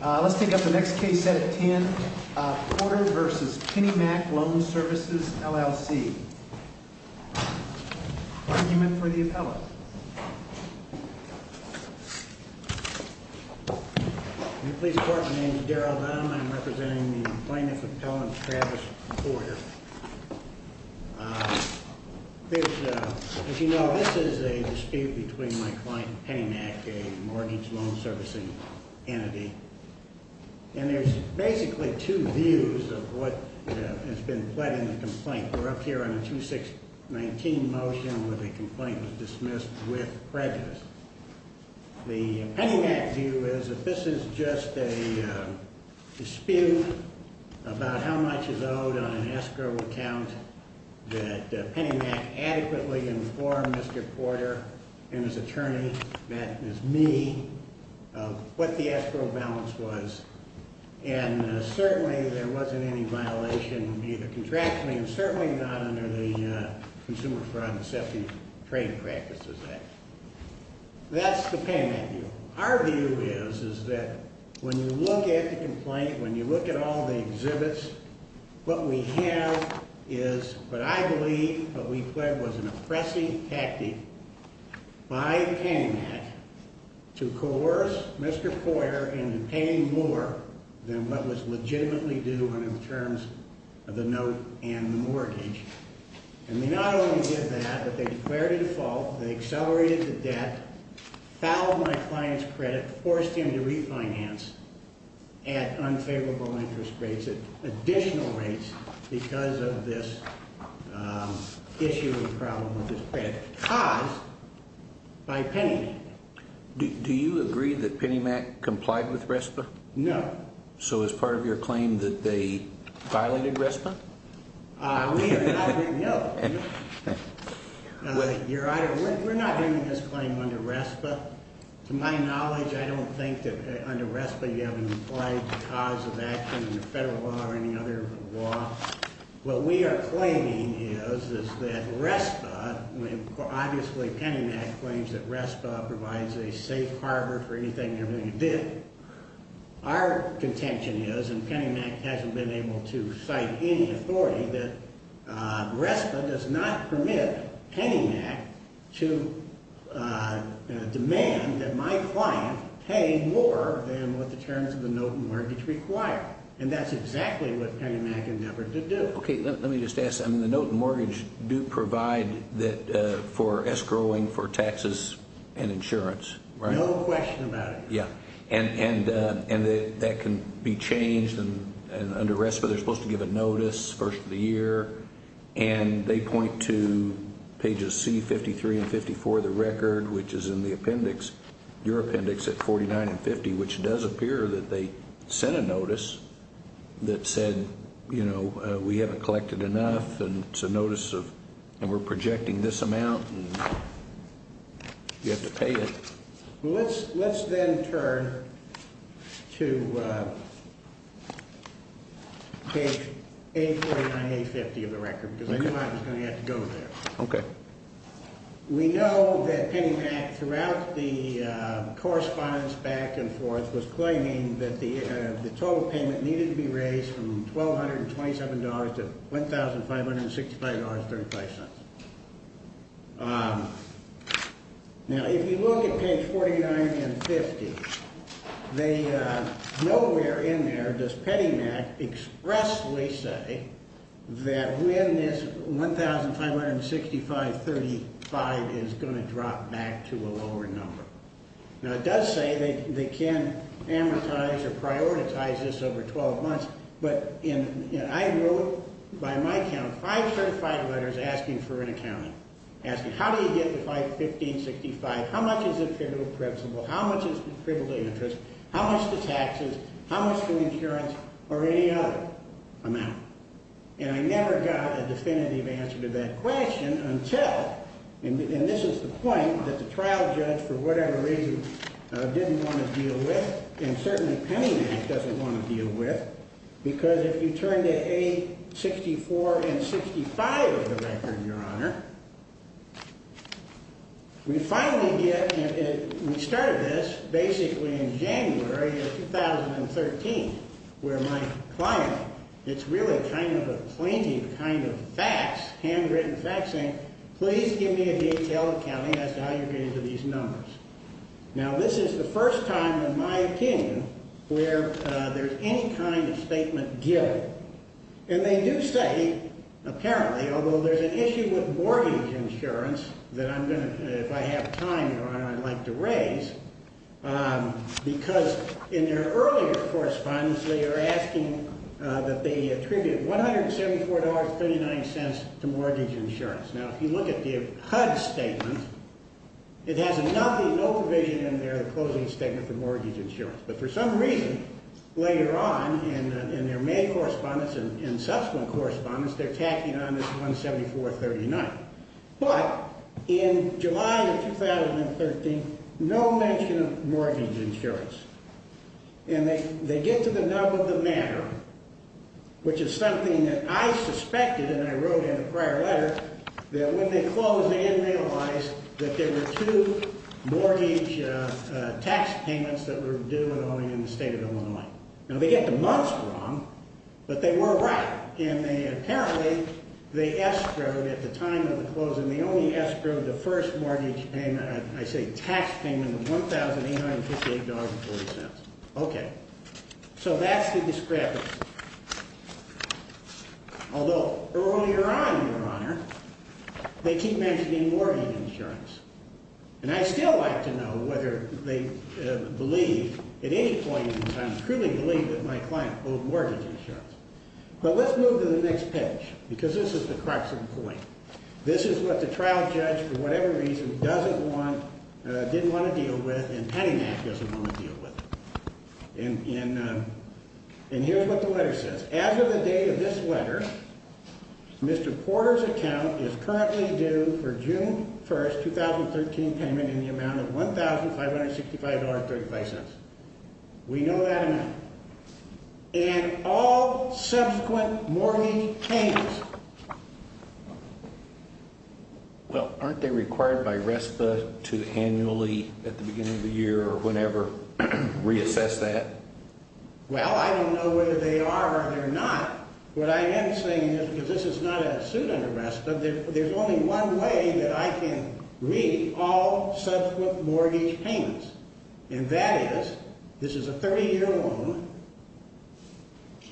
Let's take up the next case, Senate 10, Porter v. Pennymac Loan Services, LLC. Argument for the appellant. In the police court, my name is Darrell Dunham. I'm representing the plaintiff, Appellant Travis Porter. As you know, this is a dispute between my client, Pennymac, a mortgage loan servicing entity. And there's basically two views of what has been pled in the complaint. We're up here on a 2-6-19 motion where the complaint was dismissed with prejudice. The Pennymac view is that this is just a dispute about how much is owed on an escrow account. That Pennymac adequately informed Mr. Porter and his attorney, that is me, of what the escrow balance was. And certainly there wasn't any violation of either contractually or certainly not under the Consumer Fraud and Assessing Trade Practices Act. That's the Pennymac view. Our view is that when you look at the complaint, when you look at all the exhibits, what we have is what I believe what we pled was an oppressing tactic by Pennymac to coerce Mr. Porter into paying more than what was legitimately due in terms of the note and the mortgage. And they not only did that, but they declared a default, they accelerated the debt, fouled my client's credit, forced him to refinance at unfavorable interest rates, additional rates because of this issue and problem with his credit, caused by Pennymac. Do you agree that Pennymac complied with RESPA? No. So is part of your claim that they violated RESPA? We are not doing, no. Your Honor, we're not doing this claim under RESPA. To my knowledge, I don't think that under RESPA you have an implied cause of action in the federal law or any other law. What we are claiming is that RESPA, obviously Pennymac claims that RESPA provides a safe harbor for anything and everything you bid. Our contention is, and Pennymac hasn't been able to cite any authority, that RESPA does not permit Pennymac to demand that my client pay more than what the terms of the note and mortgage require. And that's exactly what Pennymac endeavored to do. Okay, let me just ask, the note and mortgage do provide for escrowing for taxes and insurance, right? No question about it. Yeah, and that can be changed, and under RESPA they're supposed to give a notice first of the year, and they point to pages C, 53 and 54 of the record, which is in the appendix, your appendix at 49 and 50, which does appear that they sent a notice that said, you know, we haven't collected enough, and it's a notice of, and we're projecting this amount, and you have to pay it. Let's then turn to page A49, A50 of the record, because I knew I was going to have to go there. Okay. We know that Pennymac, throughout the correspondence back and forth, was claiming that the total payment needed to be raised from $1,227 to $1,565.35. Now, if you look at page 49 and 50, nowhere in there does Pennymac expressly say that when this $1,565.35 is going to drop back to a lower number. Now, it does say they can amortize or prioritize this over 12 months, but I wrote, by my count, five certified letters asking for an accounting, asking, how do you get the $1,565? How much is the criminal principle? How much is the criminal interest? How much are the taxes? How much for insurance or any other amount? And I never got a definitive answer to that question until, and this is the point that the trial judge, for whatever reason, didn't want to deal with, and certainly Pennymac doesn't want to deal with, because if you turn to A64 and 65 of the record, Your Honor, we finally get, and we started this basically in January of 2013, where my client, it's really kind of a plaintiff kind of fax, handwritten fax, saying, please give me a detailed accounting as to how you're getting to these numbers. Now, this is the first time, in my opinion, where there's any kind of statement given. And they do say, apparently, although there's an issue with mortgage insurance that I'm going to, if I have time, Your Honor, I'd like to raise, because in their earlier correspondence they are asking that they attribute $174.39 to mortgage insurance. Now, if you look at the HUD statement, it has nothing, no provision in there, the closing statement for mortgage insurance. But for some reason, later on in their May correspondence and subsequent correspondence, they're tacking on this $174.39. But in July of 2013, no mention of mortgage insurance. And they get to the nub of the matter, which is something that I suspected, and I wrote in a prior letter, that when they closed, they didn't realize that there were two mortgage tax payments that were due in the state of Illinois. Now, they get the months wrong, but they were right. And apparently, they escrowed at the time of the closing, they only escrowed the first mortgage payment, I say tax payment, of $1,858.40. Okay. So that's the discrepancy. Although, earlier on, Your Honor, they keep mentioning mortgage insurance. And I'd still like to know whether they believe, at any point in time, truly believe that my client owed mortgage insurance. But let's move to the next page, because this is the crux of the point. This is what the trial judge, for whatever reason, doesn't want, didn't want to deal with, and Penny Mac doesn't want to deal with. And here's what the letter says. As of the date of this letter, Mr. Porter's account is currently due for June 1, 2013, payment in the amount of $1,565.35. We know that amount. And all subsequent mortgage payments. Well, aren't they required by RESPA to annually, at the beginning of the year, or whenever, reassess that? Well, I don't know whether they are or they're not. What I am saying is, because this is not a suit under RESPA, there's only one way that I can read all subsequent mortgage payments. And that is, this is a 30-year loan,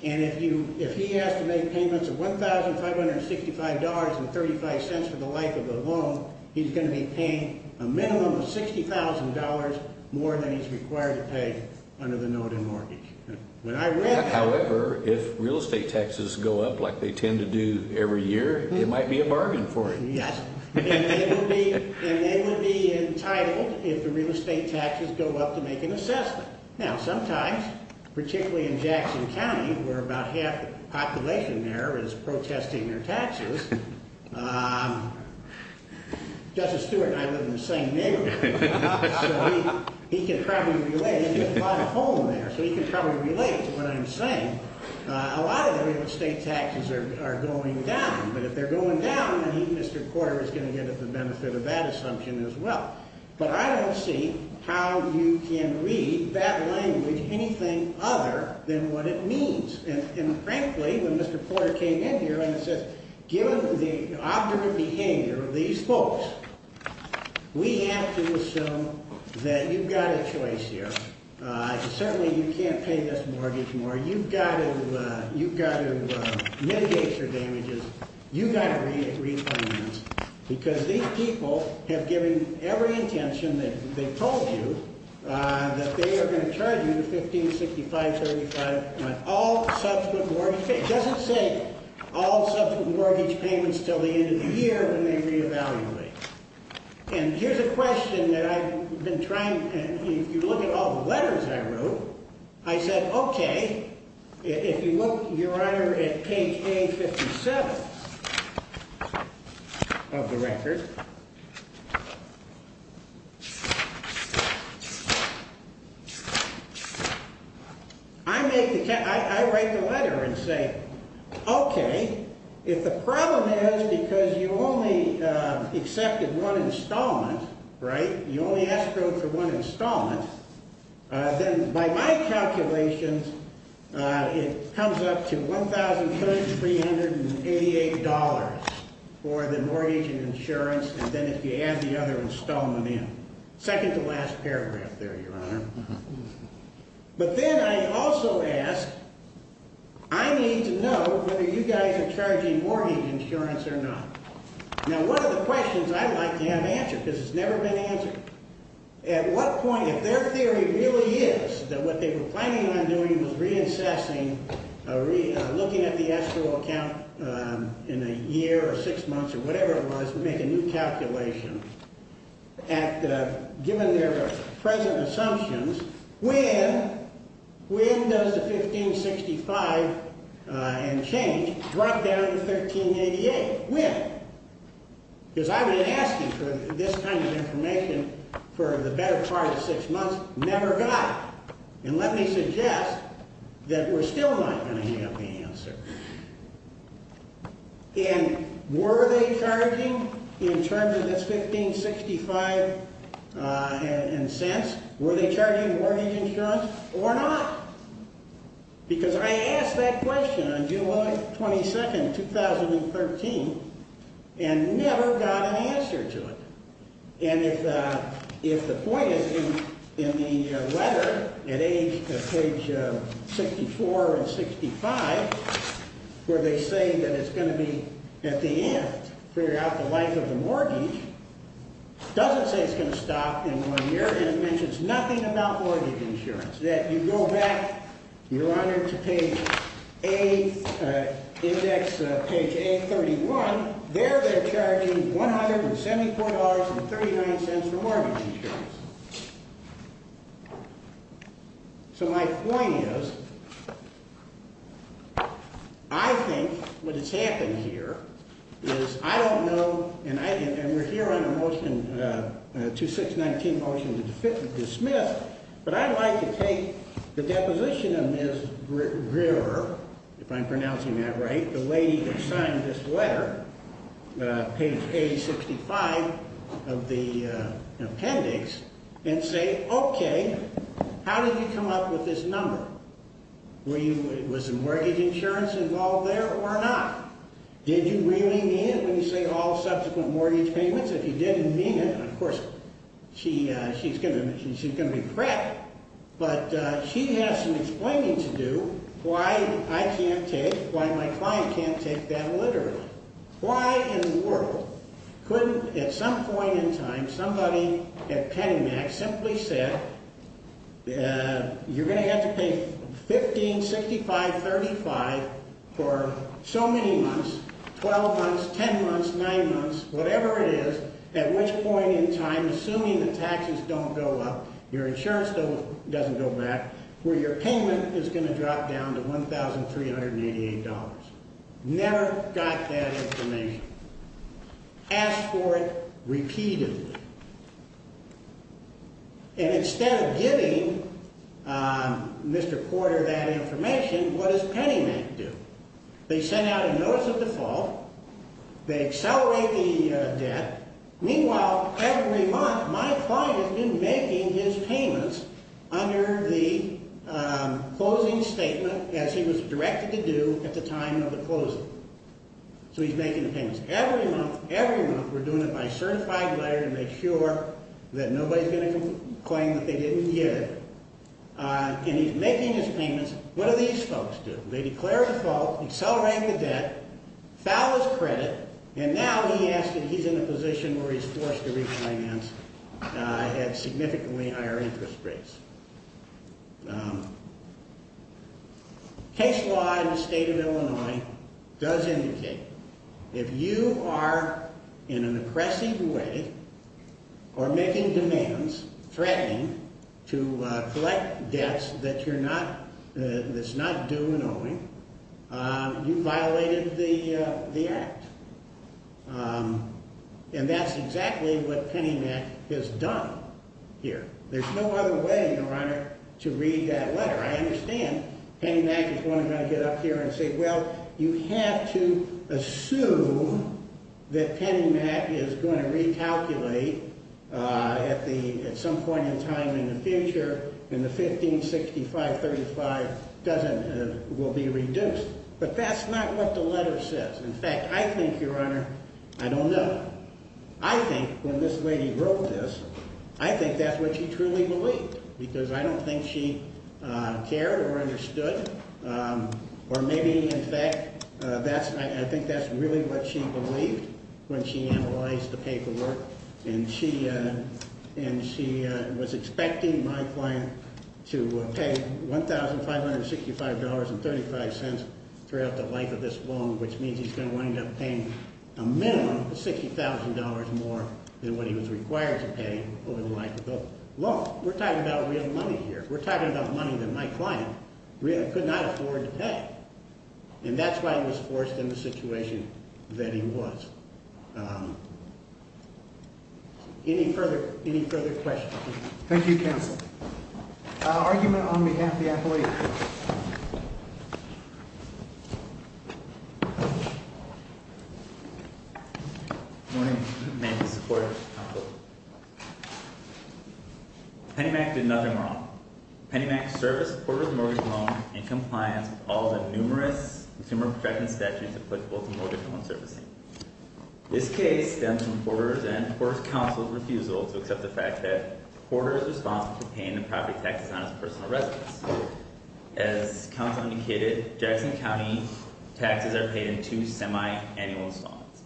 and if he has to make payments of $1,565.35 for the life of the loan, he's going to be paying a minimum of $60,000 more than he's required to pay under the noted mortgage. However, if real estate taxes go up like they tend to do every year, it might be a bargain for him. Yes, and they would be entitled, if the real estate taxes go up, to make an assessment. Now, sometimes, particularly in Jackson County, where about half the population there is protesting their taxes, Justice Stewart and I live in the same neighborhood, so he can probably relate. He has a lot of home there, so he can probably relate to what I'm saying. A lot of the real estate taxes are going down. But if they're going down, then he, Mr. Porter, is going to get at the benefit of that assumption as well. But I don't see how you can read that language anything other than what it means. And, frankly, when Mr. Porter came in here and said, given the objective behavior of these folks, we have to assume that you've got a choice here. Certainly, you can't pay this mortgage more. You've got to mitigate your damages. You've got to repayments. Because these people have given every intention that they've told you that they are going to charge you 15, 65, 35, all subsequent mortgage payments. It doesn't say all subsequent mortgage payments until the end of the year, when they reevaluate. And here's a question that I've been trying. If you look at all the letters I wrote, I said, okay, if you look, Your Honor, at page A57 of the record, I write the letter and say, okay, if the problem is because you only accepted one installment, right, you only asked for one installment, then by my calculations it comes up to $1,388 for the mortgage and insurance, and then if you add the other installment in. Second to last paragraph there, Your Honor. But then I also ask, I need to know whether you guys are charging mortgage insurance or not. Now, one of the questions I like to have answered, because it's never been answered, at what point, if their theory really is that what they were planning on doing was reassessing, looking at the escrow account in a year or six months or whatever it was, make a new calculation, and given their present assumptions, when does the 15, 65 and change drop down to $1,388? When? Because I've been asking for this kind of information for the better part of six months, never got it. And let me suggest that we're still not going to have the answer. And were they charging, in terms of this 15, 65 and cents, were they charging mortgage insurance or not? Because I asked that question on July 22, 2013, and never got an answer to it. And if the point is in the letter at page 64 and 65, where they say that it's going to be, at the end, figure out the life of the mortgage, doesn't say it's going to stop in one year, and it mentions nothing about mortgage insurance. That you go back, Your Honor, to page A, index page A31, there they're charging $174.39 for mortgage insurance. So my point is, I think what has happened here is I don't know, and we're here on a motion, 2619 motion to dismiss, but I'd like to take the deposition of Ms. Verver, if I'm pronouncing that right, the lady that signed this letter, page A65 of the appendix, and say, okay, how did you come up with this number? Was the mortgage insurance involved there or not? Did you really mean it when you say all subsequent mortgage payments? If you didn't mean it, of course, she's going to be crap, but she has some explaining to do why I can't take, why my client can't take that literally. Why in the world couldn't, at some point in time, somebody at Pennymax simply said, you're going to have to pay $15, $65, $35 for so many months, 12 months, 10 months, 9 months, whatever it is, at which point in time, assuming the taxes don't go up, your insurance doesn't go back, where your payment is going to drop down to $1,388. Never got that information. Asked for it repeatedly. And instead of giving Mr. Porter that information, what does Pennymax do? They send out a notice of default. They accelerate the debt. Meanwhile, every month, my client has been making his payments under the closing statement, as he was directed to do at the time of the closing. So he's making the payments. Every month, every month, we're doing it by certified letter to make sure that nobody's going to claim that they didn't hear. And he's making his payments. What do these folks do? They declare default, accelerate the debt, foul his credit, and now he asks that he's in a position where he's forced to refinance at significantly higher interest rates. Case law in the state of Illinois does indicate, if you are in an oppressive way or making demands, threatening to collect debts that's not due and owing, you violated the act. And that's exactly what Pennymax has done here. There's no other way, Your Honor, to read that letter. I understand Pennymax is going to get up here and say, well, you have to assume that Pennymax is going to recalculate at some point in time in the future and the 156535 will be reduced. But that's not what the letter says. In fact, I think, Your Honor, I don't know. I think when this lady wrote this, I think that's what she truly believed because I don't think she cared or understood or maybe, in fact, I think that's really what she believed when she analyzed the paperwork. And she was expecting my client to pay $1565.35 throughout the life of this loan, which means he's going to wind up paying a minimum of $60,000 more than what he was required to pay over the life of the loan. We're talking about real money here. We're talking about money that my client really could not afford to pay. And that's why he was forced in the situation that he was. Any further questions? Thank you, counsel. Argument on behalf of the athlete. Thank you. Good morning. Penny Mack did nothing wrong. Penny Mack serviced Porter's mortgage loan in compliance with all the numerous consumer protection statutes applicable to mortgage loan servicing. This case stems from Porter's and Porter's counsel's refusal to accept the fact that Porter is responsible for paying the property taxes on his personal residence. As counsel indicated, Jackson County taxes are paid in two semi-annual installments.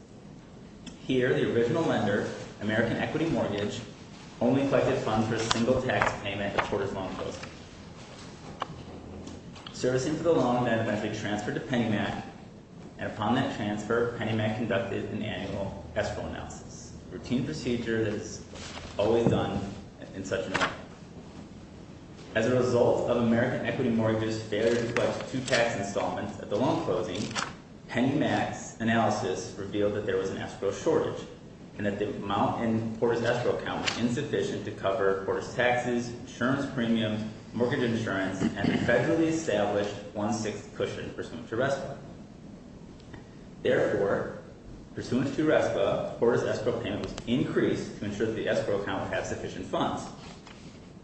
Here, the original lender, American Equity Mortgage, only collected funds for a single tax payment for Porter's loan. Servicing for the loan that eventually transferred to Penny Mack, and upon that transfer, Penny Mack conducted an annual escrow analysis, a routine procedure that is always done in such an event. As a result of American Equity Mortgage's failure to collect two tax installments at the loan closing, Penny Mack's analysis revealed that there was an escrow shortage, and that the amount in Porter's escrow account was insufficient to cover Porter's taxes, insurance premiums, mortgage insurance, and the federally established one-sixth cushion pursuant to RESPA. Therefore, pursuant to RESPA, Porter's escrow payment was increased to ensure that the escrow account would have sufficient funds.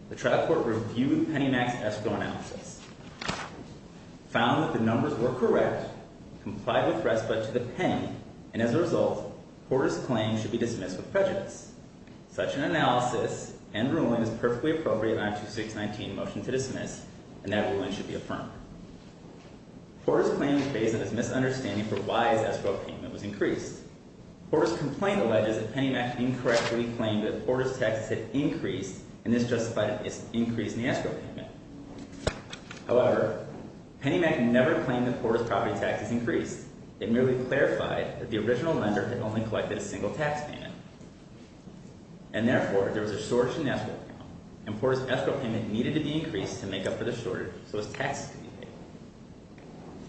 The trial court reviewed Penny Mack's escrow analysis, found that the numbers were correct, complied with RESPA to the pen, and as a result, Porter's claim should be dismissed with prejudice. Such an analysis and ruling is perfectly appropriate in I-2619, Motion to Dismiss, and that ruling should be affirmed. Porter's claim was based on his misunderstanding for why his escrow payment was increased. Porter's complaint alleges that Penny Mack had incorrectly claimed that Porter's taxes had increased, and this justified an increase in the escrow payment. However, Penny Mack never claimed that Porter's property taxes increased. It merely clarified that the original lender had only collected a single tax payment, and therefore, there was a shortage in the escrow account, and Porter's escrow payment needed to be increased to make up for the shortage so as taxes could be paid.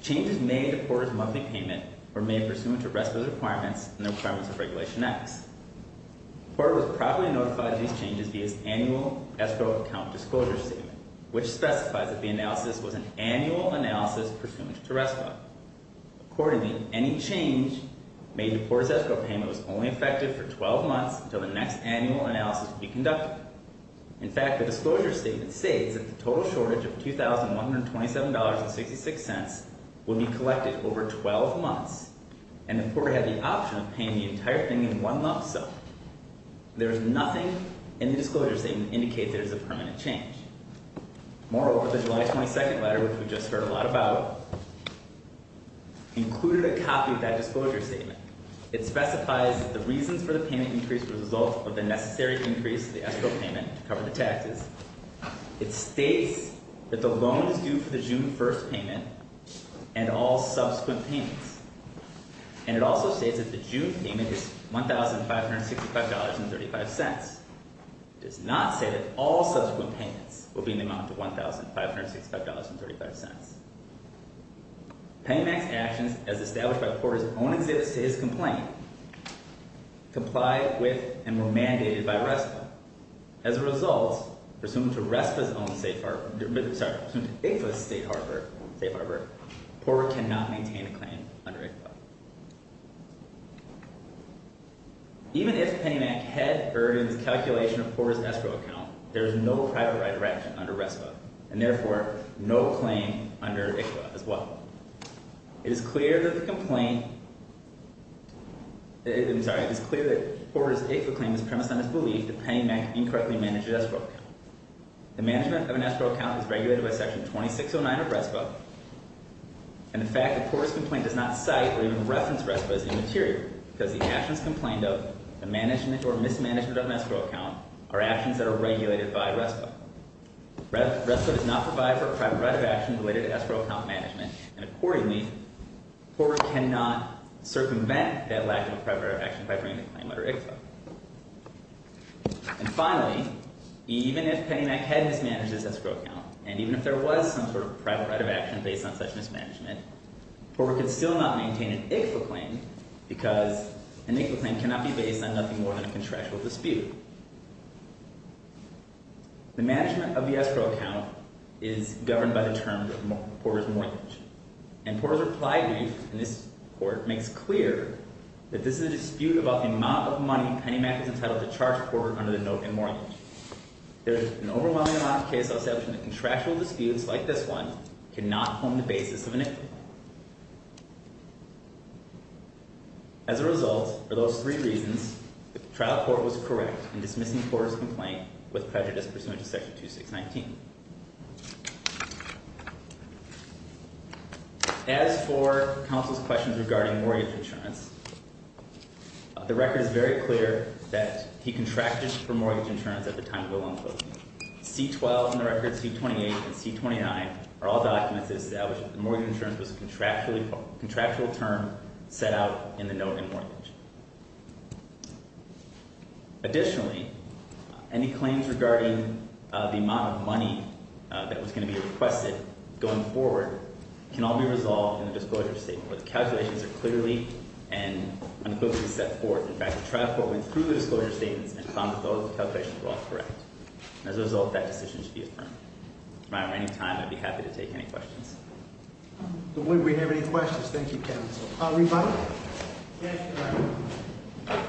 Changes made to Porter's monthly payment were made pursuant to RESPA's requirements and the requirements of Regulation X. Porter was promptly notified of these changes via his annual escrow account disclosure statement, which specifies that the analysis was an annual analysis pursuant to RESPA. Accordingly, any change made to Porter's escrow payment was only effective for 12 months until the next annual analysis would be conducted. In fact, the disclosure statement states that the total shortage of $2,127.66 would be collected over 12 months, and that Porter had the option of paying the entire thing in one lump sum. There is nothing in the disclosure statement that indicates there is a permanent change. Moreover, the July 22 letter, which we just heard a lot about, included a copy of that disclosure statement. It specifies that the reasons for the payment increase were the result of the necessary increase to the escrow payment to cover the taxes. It states that the loan is due for the June 1 payment and all subsequent payments. And it also states that the June payment is $1,565.35. It does not say that all subsequent payments will be in the amount of $1,565.35. Paymax actions, as established by Porter's own exhibits to his complaint, complied with and were mandated by RESPA. As a result, pursuant to RESPA's own state harbor—I'm sorry, pursuant to ICFA's state harbor, Porter cannot maintain a claim under ICFA. Even if Paymax had earned its calculation of Porter's escrow account, there is no private right of retirement under RESPA, and therefore no claim under ICFA as well. It is clear that Porter's ICFA claim is premised on his belief that Paymax incorrectly managed his escrow account. The management of an escrow account is regulated by Section 2609 of RESPA, and the fact that Porter's complaint does not cite or even reference RESPA is immaterial, because the actions complained of, the management or mismanagement of an escrow account, are actions that are regulated by RESPA. RESPA does not provide for a private right of action related to escrow account management, and accordingly, Porter cannot circumvent that lack of a private right of action by bringing a claim under ICFA. And finally, even if Paymax had mismanaged its escrow account, and even if there was some sort of private right of action based on such mismanagement, Porter could still not maintain an ICFA claim, because an ICFA claim cannot be based on nothing more than a contractual dispute. The management of the escrow account is governed by the term Porter's mortgage, and Porter's reply brief in this court makes clear that this is a dispute about the amount of money Paymax is entitled to charge Porter under the note in mortgage. There is an overwhelming amount of case I'll say between the contractual disputes like this one cannot form the basis of an ICFA claim. As a result, for those three reasons, the trial court was correct in dismissing Porter's complaint with prejudice pursuant to Section 2619. As for counsel's questions regarding mortgage insurance, the record is very clear that he contracted for mortgage insurance at the time of the loan closing. C-12 in the record, C-28, and C-29 are all documents that establish that the mortgage insurance was a contractual term set out in the note in mortgage. Additionally, any claims regarding the amount of money that was going to be requested going forward can all be resolved in the disclosure statement, where the calculations are clearly and unequivocally set forth. In fact, the trial court went through the disclosure statements and found that those calculations were all correct. As a result, that decision should be affirmed. If I have any time, I'd be happy to take any questions. If we have any questions, thank you, counsel. Rebuttal? Yes, Your Honor.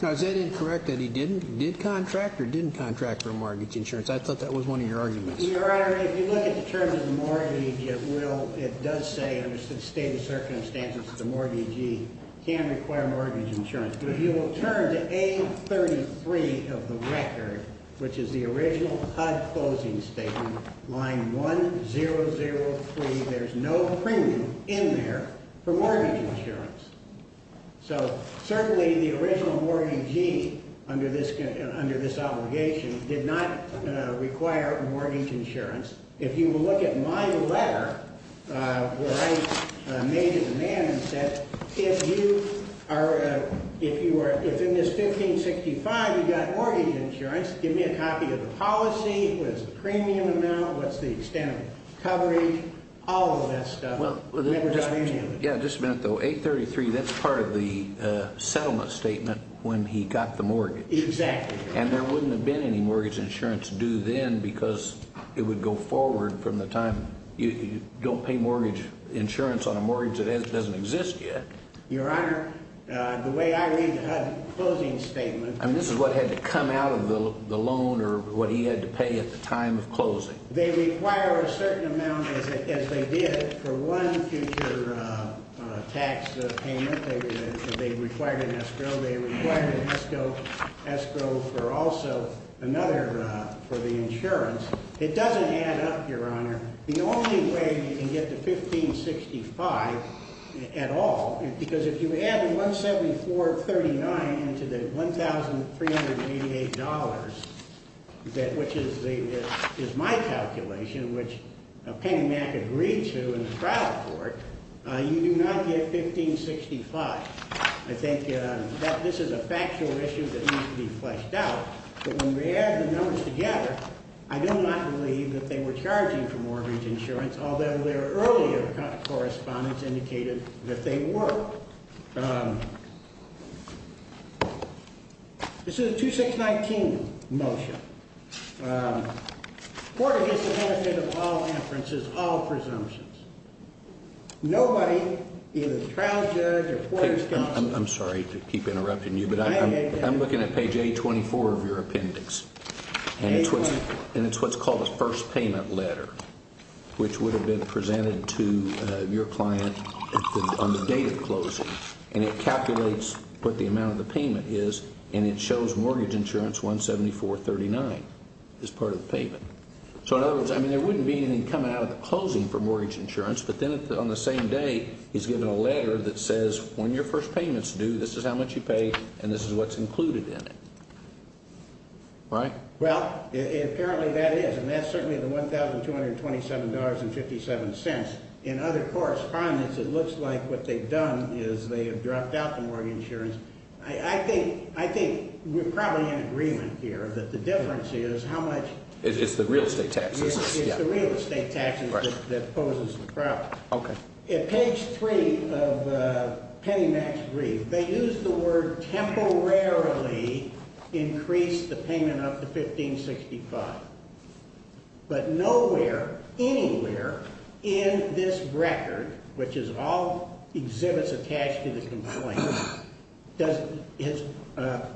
Now, is it incorrect that he did contract or didn't contract for mortgage insurance? I thought that was one of your arguments. Your Honor, if you look at the terms of the mortgage, it does say under the stated circumstances that the mortgagee can require mortgage insurance. But if you will turn to A-33 of the record, which is the original HUD closing statement, line 1003, there's no premium in there for mortgage insurance. So certainly the original mortgagee under this obligation did not require mortgage insurance. If you will look at my letter where I made a demand and said, if in this 1565 you got mortgage insurance, give me a copy of the policy, what is the premium amount, what's the extent of coverage, all of that stuff. Yeah, just a minute though. A-33, that's part of the settlement statement when he got the mortgage. Exactly. And there wouldn't have been any mortgage insurance due then because it would go forward from the time you don't pay mortgage insurance on a mortgage that doesn't exist yet. Your Honor, the way I read the HUD closing statement. I mean, this is what had to come out of the loan or what he had to pay at the time of closing. They require a certain amount as they did for one future tax payment. They required an escrow. They required an escrow for also another for the insurance. It doesn't add up, Your Honor. The only way you can get to 1565 at all, because if you add 174.39 into the $1,388, which is my calculation, which Penny Mac agreed to in the trial court, you do not get 1565. I think this is a factual issue that needs to be fleshed out. But when we add the numbers together, I do not believe that they were charging for mortgage insurance, although their earlier correspondence indicated that they were. This is a 2619 motion. Porter gets the benefit of all inferences, all presumptions. Nobody, either the trial judge or Porter's counsel. I'm sorry to keep interrupting you, but I'm looking at page 824 of your appendix. And it's what's called a first payment letter, which would have been presented to your client on the date of closing. And it calculates what the amount of the payment is, and it shows mortgage insurance 174.39 as part of the payment. So, in other words, I mean, there wouldn't be anything coming out of the closing for mortgage insurance, but then on the same day, he's given a letter that says, when your first payment's due, this is how much you pay, and this is what's included in it. Right? Well, apparently that is, and that's certainly the $1,227.57. In other correspondence, it looks like what they've done is they have dropped out the mortgage insurance. I think we're probably in agreement here that the difference is how much. It's the real estate taxes. It's the real estate taxes that poses the problem. Okay. At page 3 of Penny Mac's brief, they use the word temporarily increase the payment up to 1565. But nowhere, anywhere in this record, which is all exhibits attached to the complaint, has a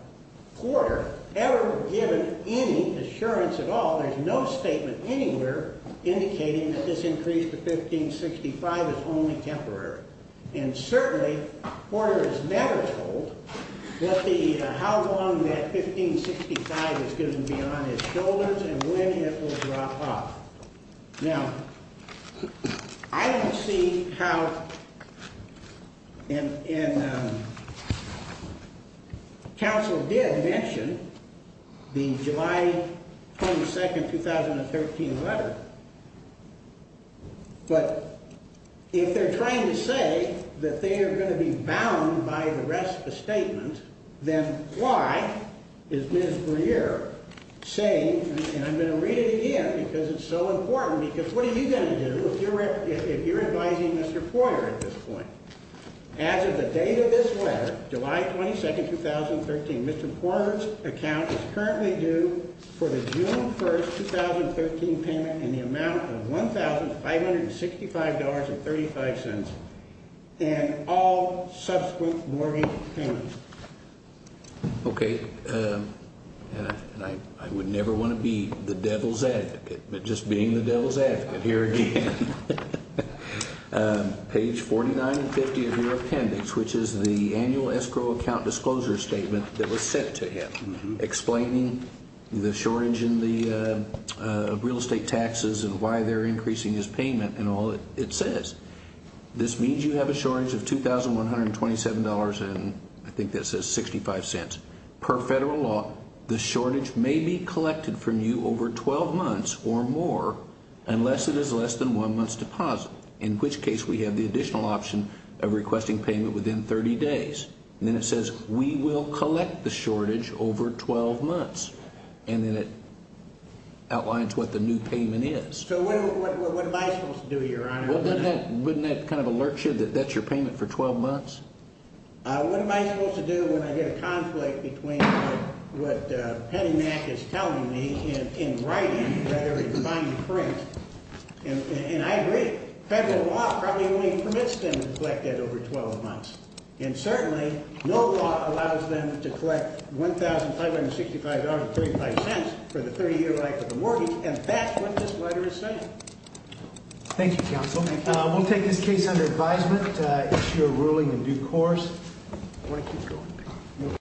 quarter ever given any assurance at all. There's no statement anywhere indicating that this increase to 1565 is only temporary. And certainly, Porter is never told how long that 1565 is going to be on his shoulders and when it will drop off. Now, I don't see how, and counsel did mention the July 22nd, 2013 letter, but if they're trying to say that they are going to be bound by the rest of the statement, then why is Ms. Breer saying, and I'm going to read it again because it's so important, because what are you going to do if you're advising Mr. Porter at this point? As of the date of this letter, July 22nd, 2013, Mr. Porter's account is currently due for the June 1st, 2013 payment in the amount of $1,565.35 and all subsequent mortgage payments. Okay. And I would never want to be the devil's advocate, but just being the devil's advocate here again. Page 49 and 50 of your appendix, which is the annual escrow account disclosure statement that was sent to him explaining the shortage in the real estate taxes and why they're increasing his payment and all it says, this means you have a shortage of $2,127.65. Per federal law, the shortage may be collected from you over 12 months or more unless it is less than one month's deposit. In which case, we have the additional option of requesting payment within 30 days. And then it says, we will collect the shortage over 12 months. And then it outlines what the new payment is. So what am I supposed to do here, Your Honor? Wouldn't that kind of alert you that that's your payment for 12 months? What am I supposed to do when I get a conflict between what Penny Mac is telling me in writing rather than in finding print? And I agree. Federal law probably only permits them to collect that over 12 months. And certainly, no law allows them to collect $1,565.35 for the 30-year life of the mortgage. And that's what this letter is saying. Thank you, Counsel. We'll take this case under advisement. It's your ruling in due course. I want to keep going.